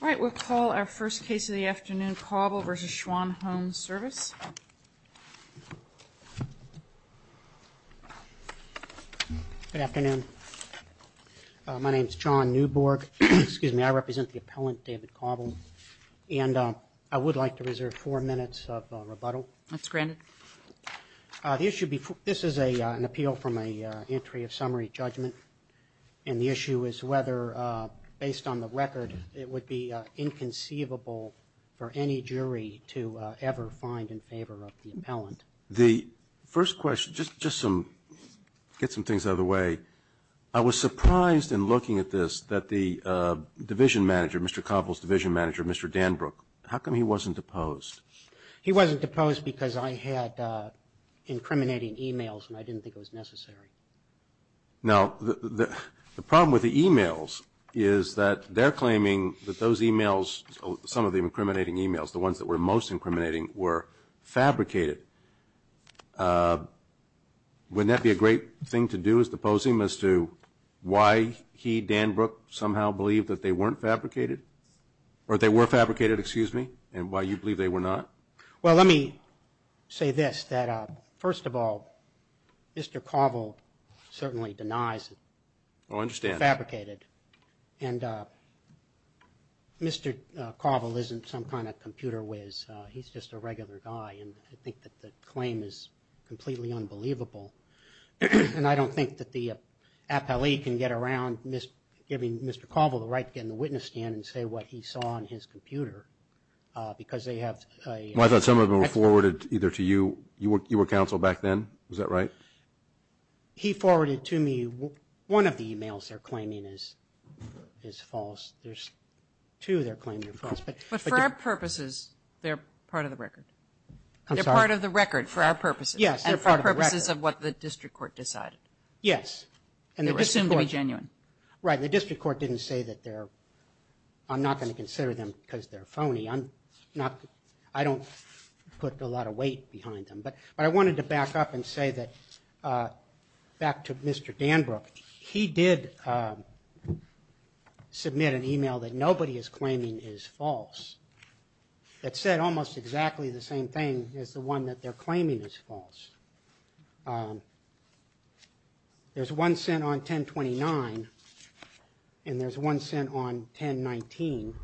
All right, we'll call our first case of the afternoon, Cobble v. Schwan Home Service. Good afternoon. My name is John Newborg. Excuse me, I represent the appellant, David Cobble, and I would like to reserve four minutes of rebuttal. That's granted. This is an appeal from an entry of summary judgment, and the issue is whether, based on the record, it would be inconceivable for any jury to ever find in favor of the appellant. The first question, just some, get some things out of the way. I was surprised in looking at this that the division manager, Mr. Cobble's division manager, Mr. Danbrook, how come he wasn't deposed? He wasn't deposed because I had incriminating emails, and I didn't think it was necessary. Now, the problem with the emails is that they're claiming that those emails, some of the incriminating emails, the ones that were most incriminating, were fabricated. Wouldn't that be a great thing to do, is depose him, as to why he, Danbrook, somehow believed that they weren't fabricated? Or they were fabricated, excuse me, and why you believe they were not? Well, let me say this, that first of all, Mr. Cobble certainly denies it. Oh, I understand. They're fabricated, and Mr. Cobble isn't some kind of computer whiz. He's just a regular guy, and I think that the claim is completely unbelievable. And I don't think that the appellee can get around giving Mr. Cobble the right to get in the witness stand and say what he saw on his computer, because they have... I thought some of them were forwarded either to you, you were counsel back then, was that right? He forwarded to me one of the emails they're claiming is false. There's two they're claiming are false. But for our purposes, they're part of the record. I'm sorry. They're part of the record for our purposes. Yes. And for purposes of what the district court decided. Yes. They were assumed to be genuine. Right. The district court didn't say that they're... I'm not going to consider them because they're phony. I'm not... I don't put a lot of weight behind them, but I wanted to back up and say that back to Mr. Danbrook, he did submit an email that nobody is claiming is false. That said almost exactly the same thing as the one that they're claiming is false. There's one sent on 1029, and there's one sent on 1019.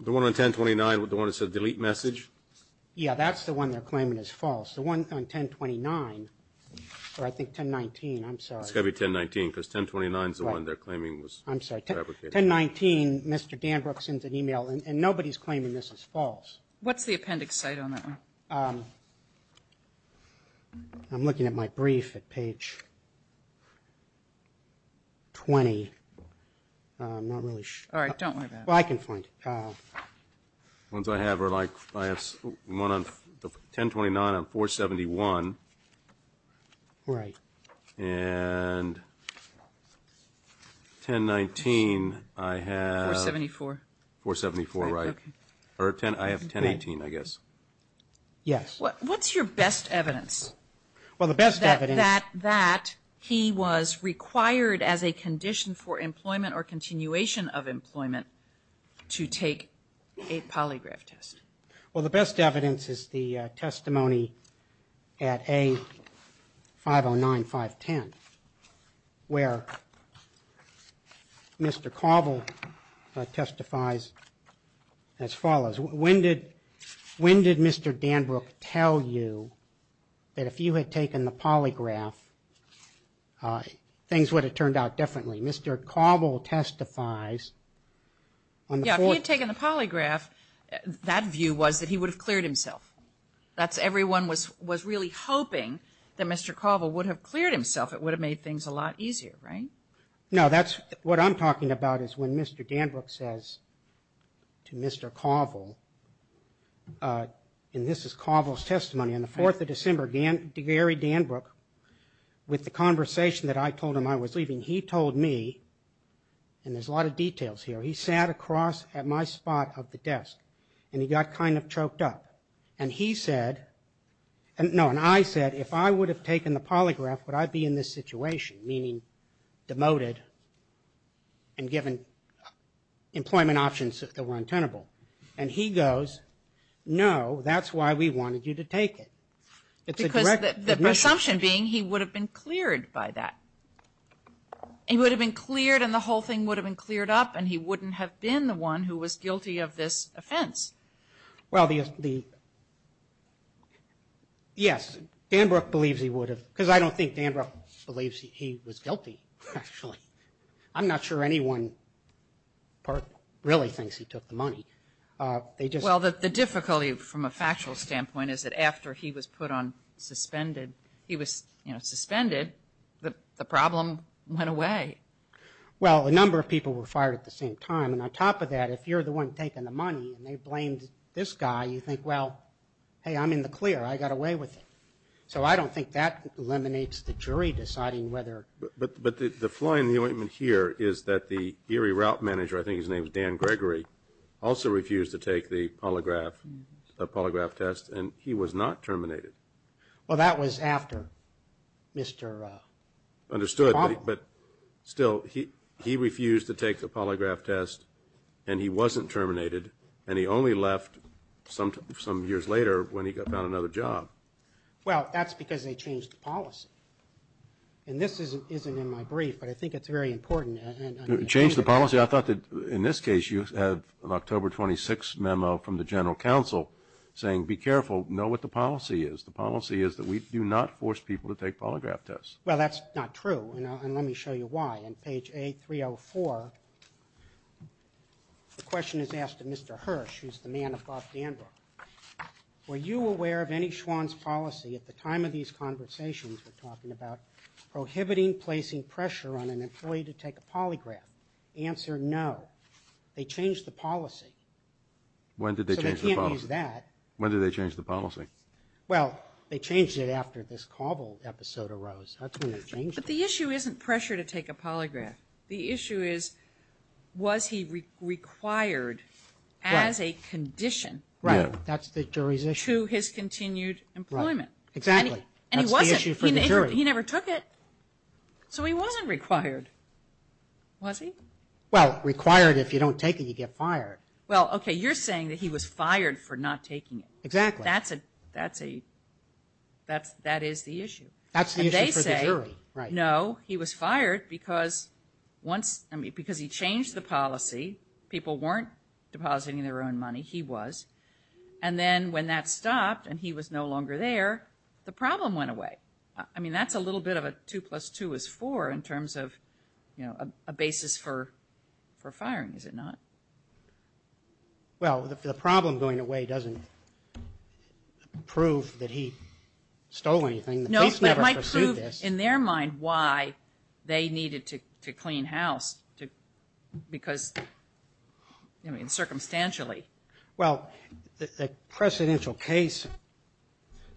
The one on 1029, the one that says delete message? Yeah, that's the one they're claiming is false. The one on 1029, or I think 1019, I'm sorry. It's got to be 1019 because 1029 is the one they're claiming was fabricated. 1019, Mr. Danbrook sends an email, and nobody's claiming this is false. What's the appendix site on that one? I'm looking at my brief at page 20. I'm not really sure. All right, don't worry about it. Well, I can find it. The ones I have are like, I have one on 1029 on 471. Right. And 1019 I have... 474. 474, right. Or 10... I have 1018, I guess. Yes. What's your best evidence? Well, the best evidence... That he was required as a condition for employment or continuation of employment to take a polygraph test. Well, the best evidence is the testimony at A 509, 510 where Mr. Cavill testifies as follows. When did Mr. Danbrook tell you that if you had taken the polygraph things would have turned out differently? Mr. Cavill testifies on the fourth... Yeah, if he had taken the polygraph, that view was that he would have cleared himself. That's everyone was was really hoping that Mr. Cavill would have cleared himself. It would have made things a lot easier, right? No, that's what I'm talking about is when Mr. Danbrook says to Mr. Cavill, and this is Cavill's testimony on the 4th of December, Gary Danbrook, with the conversation that I told him I was leaving, he told me, and there's a lot of details here, he sat across at my spot of the desk, and he got kind of choked up. And he said, no, and I said, if I would have taken the polygraph, would I be in this situation? Meaning, demoted and given employment options that were untenable. And he goes, no, that's why we wanted you to take it. Because the presumption being he would have been cleared by that. He would have been cleared and the whole thing would have been cleared up and he wouldn't have been the one who was guilty of this offense. Well, the yes, Danbrook believes he would have, because I don't think Danbrook believes he was guilty, actually. I'm not sure anyone really thinks he took the money. Well, the difficulty from a factual standpoint is that after he was put on suspended, he was, you know, suspended, the problem went away. Well, a number of people were fired at the same time. And on top of that, if you're the one taking the money and they blamed this guy, you think, well, hey, I'm in the clear. I got away with it. So I don't think that eliminates the jury deciding whether. But the flaw in the ointment here is that the Erie route manager, I think his name is Dan Gregory, also refused to take the polygraph test and he was not terminated. Well, that was after Mr. understood, but still he refused to take the polygraph test and he wasn't terminated and he only left some years later when he got found another job. Well, that's because they changed the policy. And this isn't in my brief, but I think it's very important. Changed the policy? I thought that in this case, you have an October 26 memo from the General Counsel saying be careful, know what the policy is. The policy is that we do not force people to take polygraph tests. Well, that's not true. And let me show you why. On page A304, the question is asked of Mr. Hirsch, who's the man of Bob Danbrook. Were you aware of any Schwann's policy at the time of these conversations we're talking about? Prohibiting placing pressure on an employee to take a polygraph. Answer, no. They changed the policy. When did they change the policy? When did they change the policy? Well, they changed it after this Cobble episode arose. That's when they changed it. But the issue isn't pressure to take a polygraph. The issue is was he required as a condition. Right. That's the jury's issue. To his continued employment. Exactly. And he wasn't. That's the issue for the jury. He never took it. So he wasn't required. Was he? Well, required if you don't take it, you get fired. Well, okay, you're saying that he was fired for not taking it. Exactly. That's a, that's a, that's, that is the issue. That's the issue for the jury. And they say, no, he was fired because once, I mean, because he changed the policy, people weren't depositing their own money. He was. And then when that stopped and he was no longer there, the problem went away. I mean, that's a little bit of a two plus two is four in terms of, you know, a basis for for firing, is it not? Well, if the problem going away doesn't prove that he stole anything, the case never pursued this. No, but it might prove in their mind why they needed to clean house because, I mean, circumstantially. Well, the precedential case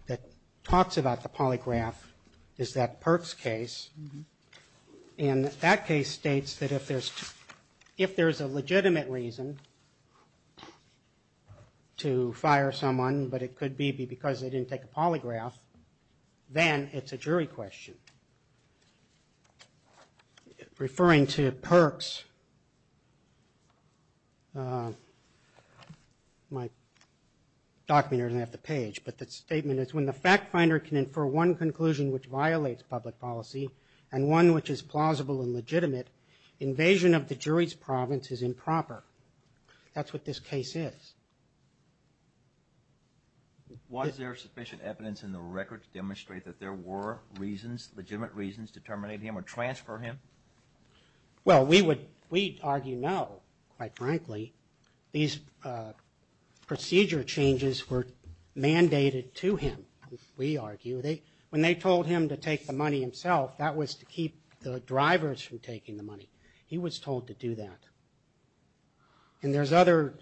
that talks about the polygraph is that Perks case. And that case states that if there's, if there's a legitimate reason to fire someone, but it could be because they didn't take a polygraph, then it's a jury question. Referring to Perks, my document doesn't have the page, but the statement is when the fact finder can infer one conclusion which violates public policy and one which is plausible and legitimate, invasion of the jury's province is improper. That's what this case is. Was there sufficient evidence in the record to demonstrate that there were reasons, legitimate reasons, to terminate him or transfer him? Well, we would, we'd argue no, quite frankly. These procedure changes were mandated to him, we argue. They, when they told him to take the money himself, that was to keep the drivers from taking the money. He was told to do that. And there's other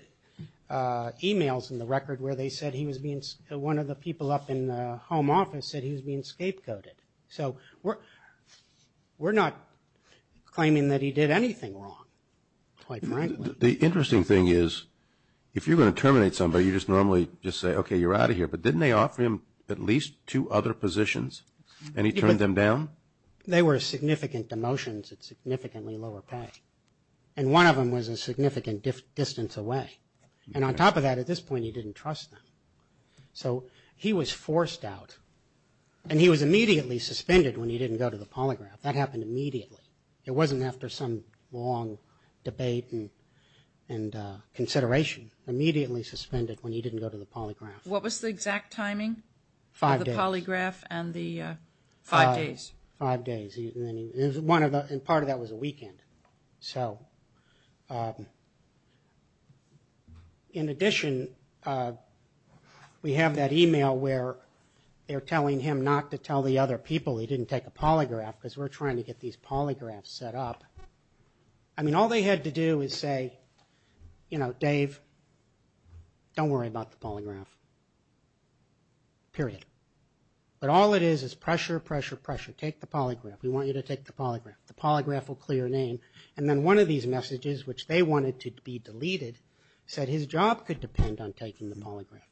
emails in the record where they said he was being, one of the people up in the home office said he was being scapegoated. So we're not claiming that he did anything wrong, quite frankly. The interesting thing is, if you're going to terminate somebody, you just normally just say, okay, you're out of here. But didn't they offer him at least two other positions and he turned them down? They were significant demotions at significantly lower pay, and one of them was a significant distance away. And on top of that, at this point, he didn't trust them. So he was forced out and he was immediately suspended when he didn't go to the polygraph. That happened immediately. It wasn't after some long debate and consideration. Immediately suspended when he didn't go to the polygraph. What was the exact timing? Five days. The polygraph and the five days. Five days. One of the, and part of that was a weekend. So in addition, we have that email where they're telling him not to tell the other people he didn't take a polygraph because we're trying to get these polygraphs set up. I mean, all they had to do is say, you know, Dave, don't worry about the polygraph. Period. But all it is, is pressure, pressure, pressure. Take the polygraph. We want you to take the polygraph. The polygraph will clear your name. And then one of these messages, which they wanted to be deleted, said his job could depend on taking the polygraph.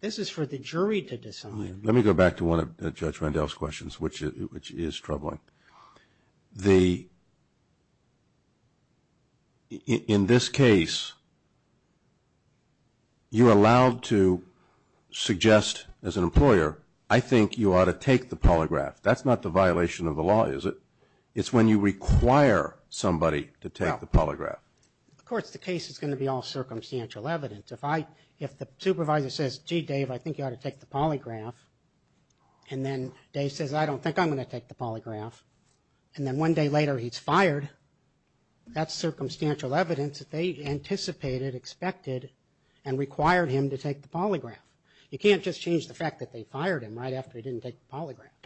This is for the jury to decide. Let me go back to one of Judge Randell's questions, which is troubling. The, in this case, you're allowed to suggest as an employer, I think you ought to take the polygraph. That's not the violation of the law, is it? It's when you require somebody to take the polygraph. Of course, the case is going to be all circumstantial evidence. If I, if the supervisor says, gee, Dave, I think you ought to take the polygraph, and then Dave says, I don't think I'm going to take the polygraph, and then one day later he's fired, that's circumstantial evidence that they anticipated, expected, and required him to take the polygraph. You can't just change the fact that they fired him right after he didn't take the polygraph.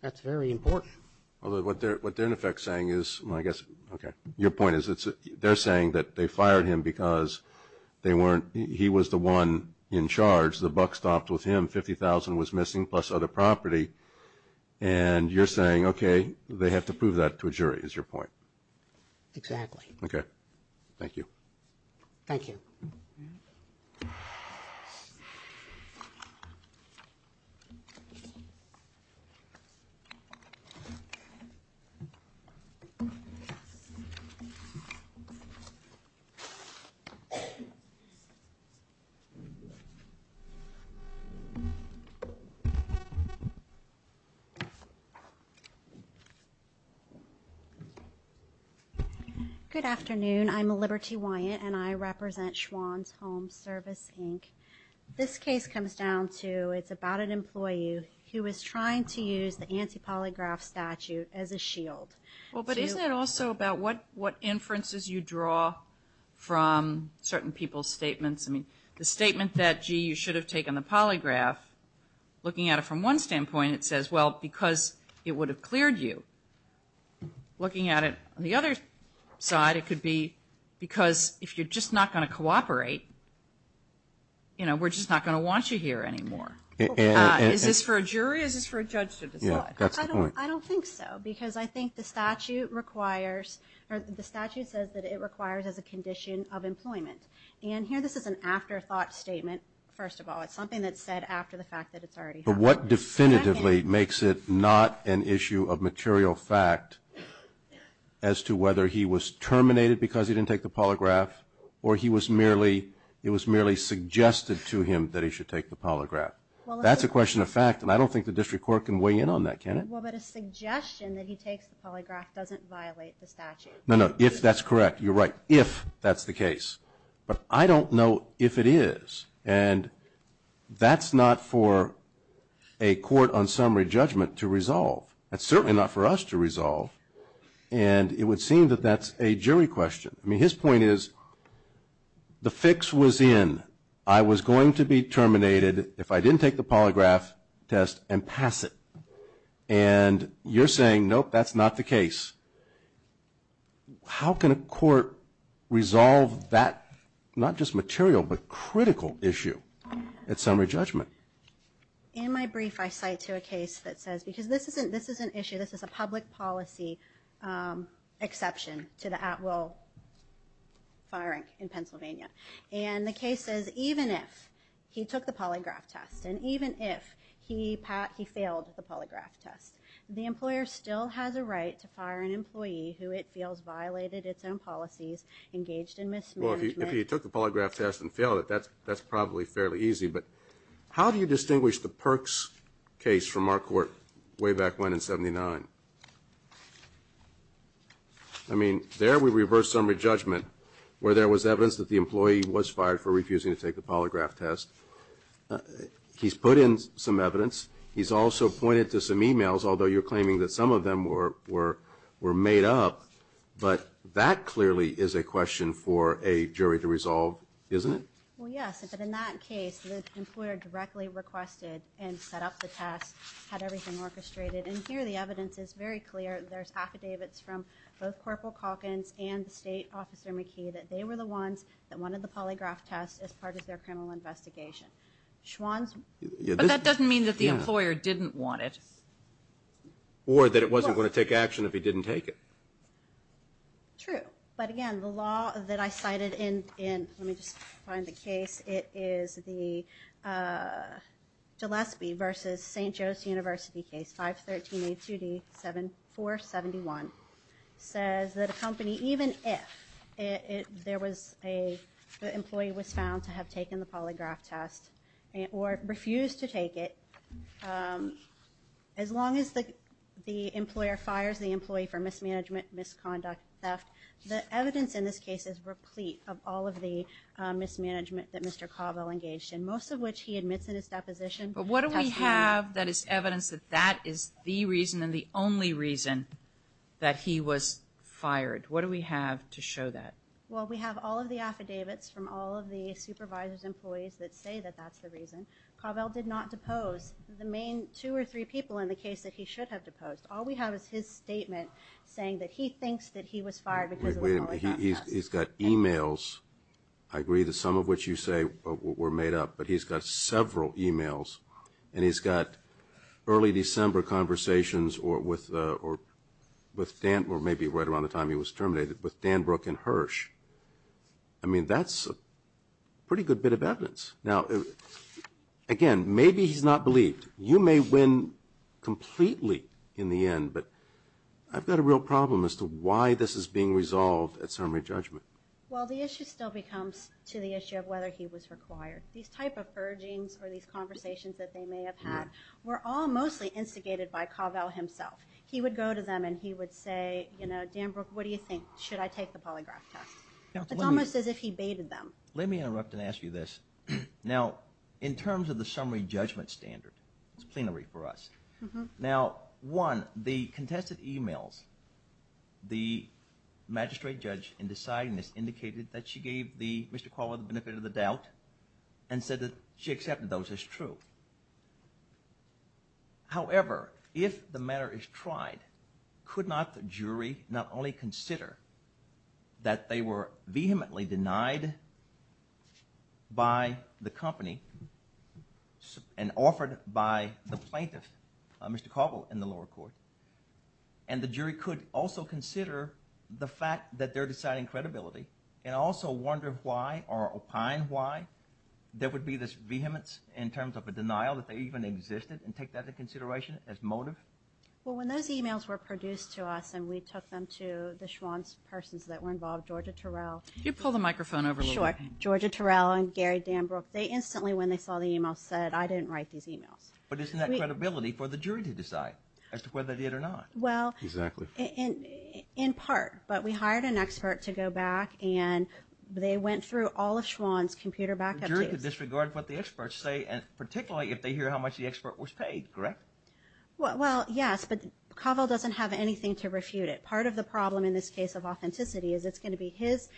That's very important. Although what they're, what they're in effect saying is, I guess, okay, your point is, it's, they're saying that they fired him because they weren't, he was the one in charge, the buck stopped with him, $50,000 was missing, plus other property, and you're saying, okay, they have to prove that to a jury, is your point? Exactly. Okay. Thank you. Thank you. Good afternoon. I'm a Liberty Wyant, and I represent Schwann's Home Service, Inc. This case comes down to, it's about an employee who is trying to use the anti-polygraph statute as a shield. Well, but isn't it also about what, what inferences you draw from certain people's statements? I mean, the statement that, gee, you should have taken the polygraph, looking at it from one standpoint, it says, well, because it would have cleared you. Looking at it on the other side, it could be because if you're just not going to cooperate, you know, we're just not going to want you here anymore. Is this for a jury, or is this for a judge to decide? I don't think so, because I think the statute requires, or the statute says that it requires as a condition of employment. And here, this is an afterthought statement, first of all. It's something that's said after the fact that it's already happened. But what definitively makes it not an issue of material fact as to whether he was terminated because he didn't take the polygraph, or he was merely, it was merely suggested to him that he should take the polygraph? Well, that's a question of fact, and I don't think the district court can weigh in on that, can it? Well, but a suggestion that he takes the polygraph doesn't violate the statute. No, no, if that's correct, you're right, if that's the case. But I don't know if it is. And that's not for a court on summary judgment to resolve. That's certainly not for us to resolve. And it would seem that that's a jury question. I mean, his point is, the fix was in. I was going to be terminated if I didn't take the polygraph test and pass it. And you're saying, nope, that's not the case. How can a court resolve that, not just material, but critical issue at summary judgment? In my brief, I cite to a case that says, because this is an issue, this is a public policy exception to the at-will firing in Pennsylvania. And the case says, even if he took the polygraph test, and even if he failed the polygraph test, the employer still has a right to fire an employee who it feels violated its own policies, engaged in mismanagement. Well, if he took the polygraph test and failed it, that's probably fairly easy. But how do you distinguish the Perks case from our court way back when in 79? I mean, there we reversed summary judgment, where there was evidence that the employee was fired for refusing to take the polygraph test. He's put in some evidence. He's also pointed to some emails, although you're claiming that some of them were made up. But that clearly is a question for a jury to resolve, isn't it? Well, yes, but in that case, the employer directly requested and set up the test, had everything orchestrated. And here, the evidence is very clear. There's affidavits from both Corporal Calkins and the State Officer McKee that they were the ones that wanted the polygraph test as part of their criminal investigation. But that doesn't mean that the employer didn't want it. Or that it wasn't going to take action if he didn't take it. True. But again, the law that I cited in, let me just find the case, it is the Gillespie versus St. Varsity case, 513-82D-471, says that a company, even if there was a, the employee was found to have taken the polygraph test or refused to take it. As long as the employer fires the employee for mismanagement, misconduct, theft, the evidence in this case is replete of all of the mismanagement that Mr. But what do we have that is evidence that that is the reason and the only reason that he was fired? What do we have to show that? Well, we have all of the affidavits from all of the supervisors, employees that say that that's the reason. Carvel did not depose the main two or three people in the case that he should have deposed. All we have is his statement saying that he thinks that he was fired because of the polygraph test. He's got emails. I agree that some of what you say were made up, but he's got several emails and he's got early December conversations or with Dan, or maybe right around the time he was terminated, with Dan Brook and Hirsch. I mean, that's a pretty good bit of evidence. Now, again, maybe he's not believed. You may win completely in the end, but I've got a real problem as to why this is being resolved at summary judgment. Well, the issue still becomes to the issue of whether he was required. These type of purgings or these conversations that they may have had were all mostly instigated by Carvel himself. He would go to them and he would say, you know, Dan Brook, what do you think? Should I take the polygraph test? It's almost as if he baited them. Let me interrupt and ask you this. Now, in terms of the summary judgment standard, it's plenary for us. Now, one, the contested emails, the magistrate judge in deciding this indicated that she gave Mr. Carvel the benefit of the doubt and said that she accepted those as true. However, if the matter is tried, could not the jury not only consider that they were vehemently denied by the company and offered by the plaintiff? Mr. Carvel in the lower court. And the jury could also consider the fact that they're deciding credibility and also wonder why or opine why there would be this vehemence in terms of a denial that they even existed and take that into consideration as motive. Well, when those emails were produced to us and we took them to the Schwann's persons that were involved, Georgia Terrell. You pull the microphone over. Sure. Georgia Terrell and Gary Dan Brook, they instantly, when they saw the email, said, I didn't write these emails. But isn't that credibility for the jury to decide as to whether they did or not? Well, exactly. In part, but we hired an expert to go back and they went through all of Schwann's computer backup. The jury could disregard what the experts say and particularly if they hear how much the expert was paid, correct? Well, yes, but Carvel doesn't have anything to refute it. Part of the problem in this case of authenticity is it's going to be his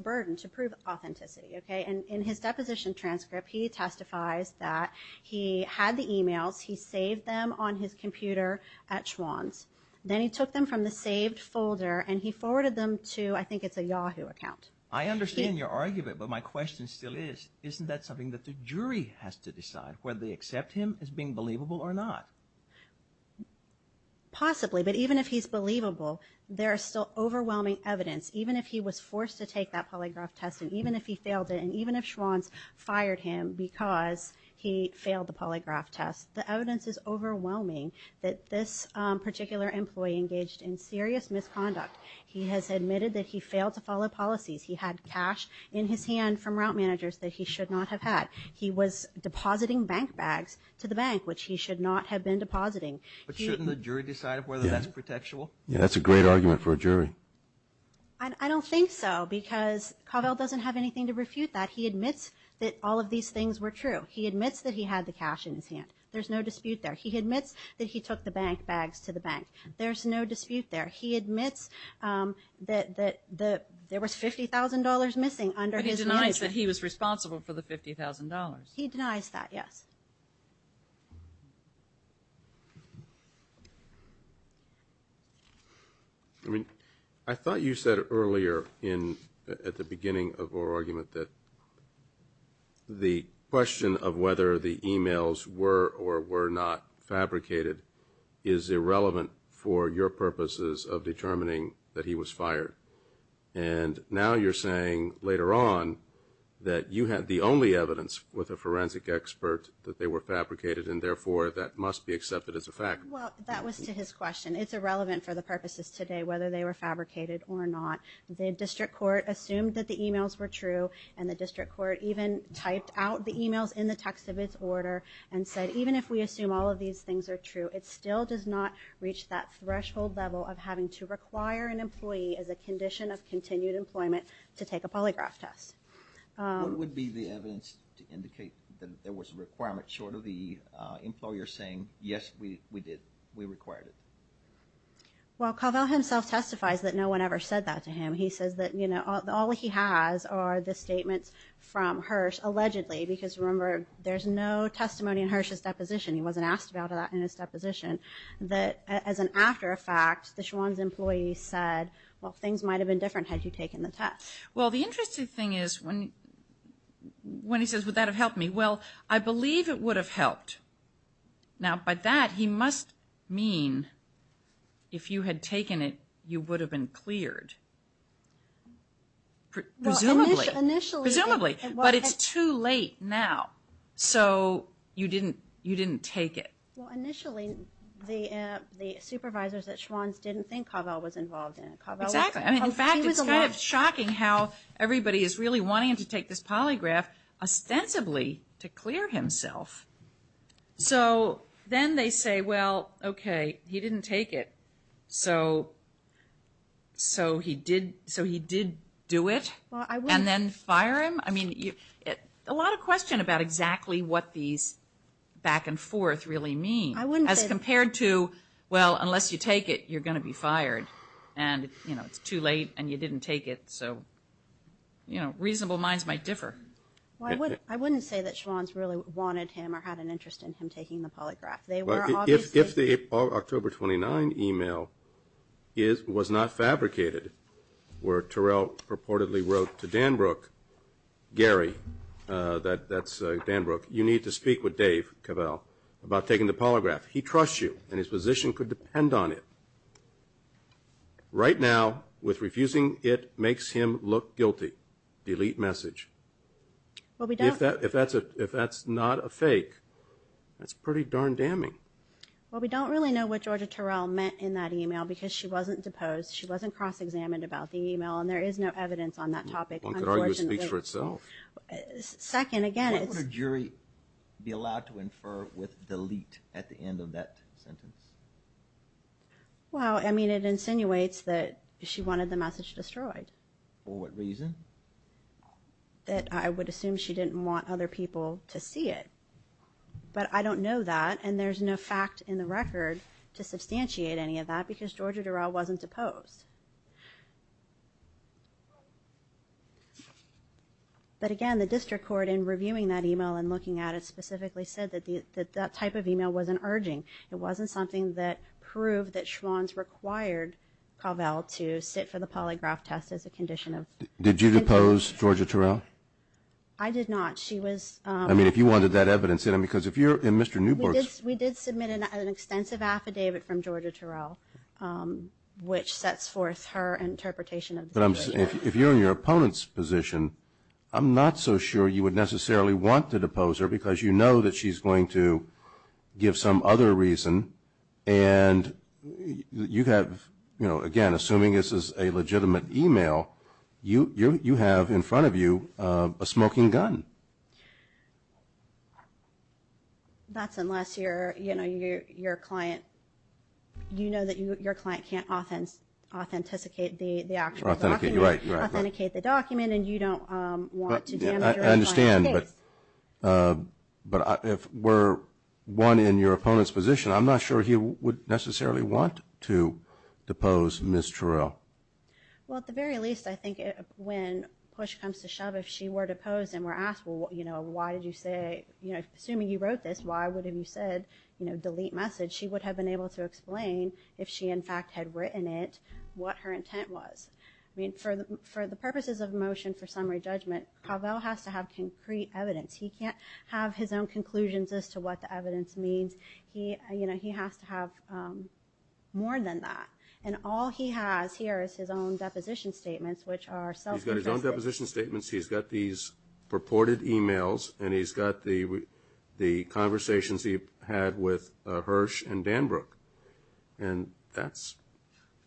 burden to prove authenticity. And in his deposition transcript, he testifies that he had the emails. He saved them on his computer at Schwann's. Then he took them from the saved folder and he forwarded them to, I think it's a Yahoo account. I understand your argument, but my question still is, isn't that something that the jury has to decide whether they accept him as being believable or not? Possibly, but even if he's believable, there are still overwhelming evidence. Even if he was forced to take that polygraph test and even if he failed it, and even if Schwann's fired him because he failed the polygraph test, the evidence is overwhelming that this particular employee engaged in serious misconduct. He has admitted that he failed to follow policies. He had cash in his hand from route managers that he should not have had. He was depositing bank bags to the bank, which he should not have been depositing. But shouldn't the jury decide whether that's protectual? Yeah, that's a great argument for a jury. I don't think so, because Covell doesn't have anything to refute that. He admits that all of these things were true. He admits that he had the cash in his hand. There's no dispute there. He admits that he took the bank bags to the bank. There's no dispute there. He admits that there was $50,000 missing under his name. But he denies that he was responsible for the $50,000. He denies that, yes. I mean, I thought you said earlier at the beginning of our argument that the question of whether the emails were or were not fabricated is irrelevant for your purposes of determining that he was fired. And now you're saying later on that you had the only evidence with a forensic expert that they were fabricated, and therefore that must be accepted as a fact. Well, that was to his question. It's irrelevant for the purposes today whether they were fabricated or not. The district court assumed that the emails were true. And the district court even typed out the emails in the text of its order and said, even if we assume all of these things are true, it still does not reach that threshold level of having to require an employee as a condition of continued employment to take a polygraph test. What would be the evidence to indicate that there was a requirement short of the employer saying, yes, we did, we required it? Well, Cavell himself testifies that no one ever said that to him. He says that, you know, all he has are the statements from Hirsch, allegedly, because remember, there's no testimony in Hirsch's deposition. He wasn't asked about that in his deposition. That as an after effect, the Schwan's employee said, well, things might have been different had he taken the test. Well, the interesting thing is when he says, would that have helped me? Well, I believe it would have helped. Now, by that, he must mean, if you had taken it, you would have been cleared. Presumably, presumably, but it's too late now. So, you didn't take it. Well, initially, the supervisors at Schwan's didn't think Cavell was involved in it. Exactly. I mean, in fact, it's kind of shocking how everybody is really wanting to take this polygraph, ostensibly, to clear himself. So, then they say, well, okay, he didn't take it, so he did do it and then fire him? I mean, a lot of question about exactly what these back and forth really mean as compared to, well, unless you take it, you're going to be fired. And, you know, it's too late and you didn't take it. So, you know, reasonable minds might differ. Well, I wouldn't say that Schwan's really wanted him or had an interest in him taking the polygraph. If the October 29 email was not fabricated, where Terrell purportedly wrote to Danbrook, Gary, that's Danbrook, you need to speak with Dave Cavell about taking the polygraph. He trusts you and his position could depend on it. Right now, with refusing it, makes him look guilty. Delete message. If that's not a fake, that's pretty darn damning. Well, we don't really know what Georgia Terrell meant in that email because she wasn't deposed, she wasn't cross-examined about the email, and there is no evidence on that topic. One could argue it speaks for itself. Second, again, it's... Why would a jury be allowed to infer with delete at the end of that sentence? Well, I mean, it insinuates that she wanted the message destroyed. For what reason? That I would assume she didn't want other people to see it. But I don't know that, and there's no fact in the record to substantiate any of that because Georgia Terrell wasn't deposed. But again, the district court, in reviewing that email and looking at it, specifically said that that type of email wasn't urging. It wasn't something that proved that Schwann's required Covell to sit for the polygraph test as a condition of... Did you depose Georgia Terrell? I did not. She was... I mean, if you wanted that evidence in it, because if you're... And Mr. Newberg's... We did submit an extensive affidavit from Georgia Terrell, which sets forth her interpretation of the situation. If you're in your opponent's position, I'm not so sure you would necessarily want to depose her because you know that she's going to give some other reason. And you have, you know, again, assuming this is a legitimate email, you have in front of you a smoking gun. That's unless you're, you know, your client... You know that your client can't authenticate the actual document. Authenticate, you're right, you're right. Authenticate the document and you don't want to damage your client's case. I understand, but if we're one in your opponent's position, I'm not sure he would necessarily want to depose Ms. Terrell. Well, at the very least, I think when push comes to shove, if she were deposed and were asked, well, you know, why did you say, you know, assuming you wrote this, why would have you said, you know, delete message? She would have been able to explain if she in fact had written it, what her intent was. I mean, for the purposes of motion for summary judgment, Cavell has to have concrete evidence. He can't have his own conclusions as to what the evidence means. He, you know, he has to have more than that. And all he has here is his own deposition statements, which are self-confessed. He's got his own deposition statements. He's got these purported emails and he's got the conversations he had with Hirsch and Danbrook. And that's...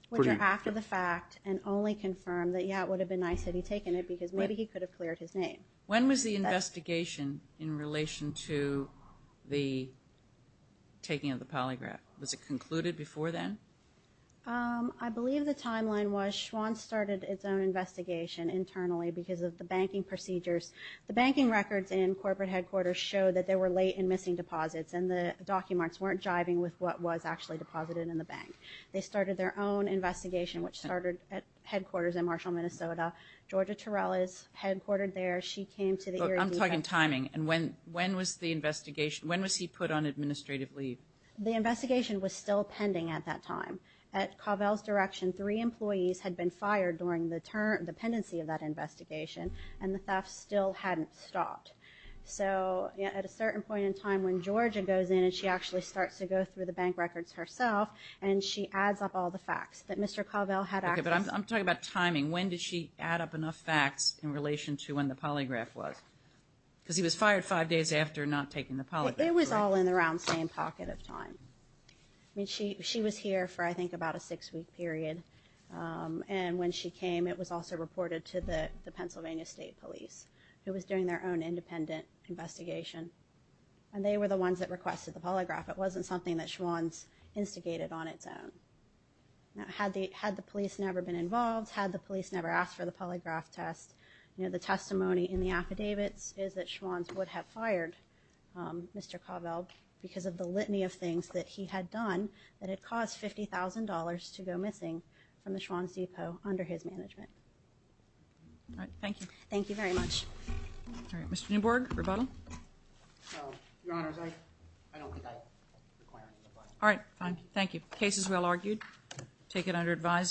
Which are after the fact and only confirm that, yeah, it would have been nice had he taken it because maybe he could have cleared his name. When was the investigation in relation to the taking of the polygraph? Was it concluded before then? I believe the timeline was Schwann started its own investigation internally because of the banking procedures. The banking records in corporate headquarters show that they were late in missing deposits and the documents weren't jiving with what was actually deposited in the bank. They started their own investigation, which started at headquarters in Marshall, Minnesota. Georgia Terrell is headquartered there. She came to the... I'm talking timing. And when when was the investigation, when was he put on administrative leave? The investigation was still pending at that time. At Covell's direction, three employees had been fired during the pendency of that investigation and the theft still hadn't stopped. So at a certain point in time when Georgia goes in and she actually starts to go through the bank records herself and she adds up all the facts that Mr. Schwann had, she adds up enough facts in relation to when the polygraph was because he was fired five days after not taking the polygraph. It was all in the round same pocket of time. I mean, she she was here for, I think, about a six week period. And when she came, it was also reported to the Pennsylvania state police who was doing their own independent investigation. And they were the ones that requested the polygraph. It wasn't something that Schwann's instigated on its own. Now, had the had the police never been involved, had the police never asked for the polygraph test, you know, the testimony in the affidavits is that Schwann's would have fired Mr. Covell because of the litany of things that he had done that had cost $50,000 to go missing from the Schwann's depot under his management. Thank you. Thank you very much. All right, Mr. Newborg, rebuttal. So, Your Honor, I don't think I require any rebuttal. All right. Fine. Thank you. Case is well argued. Take it under advisement.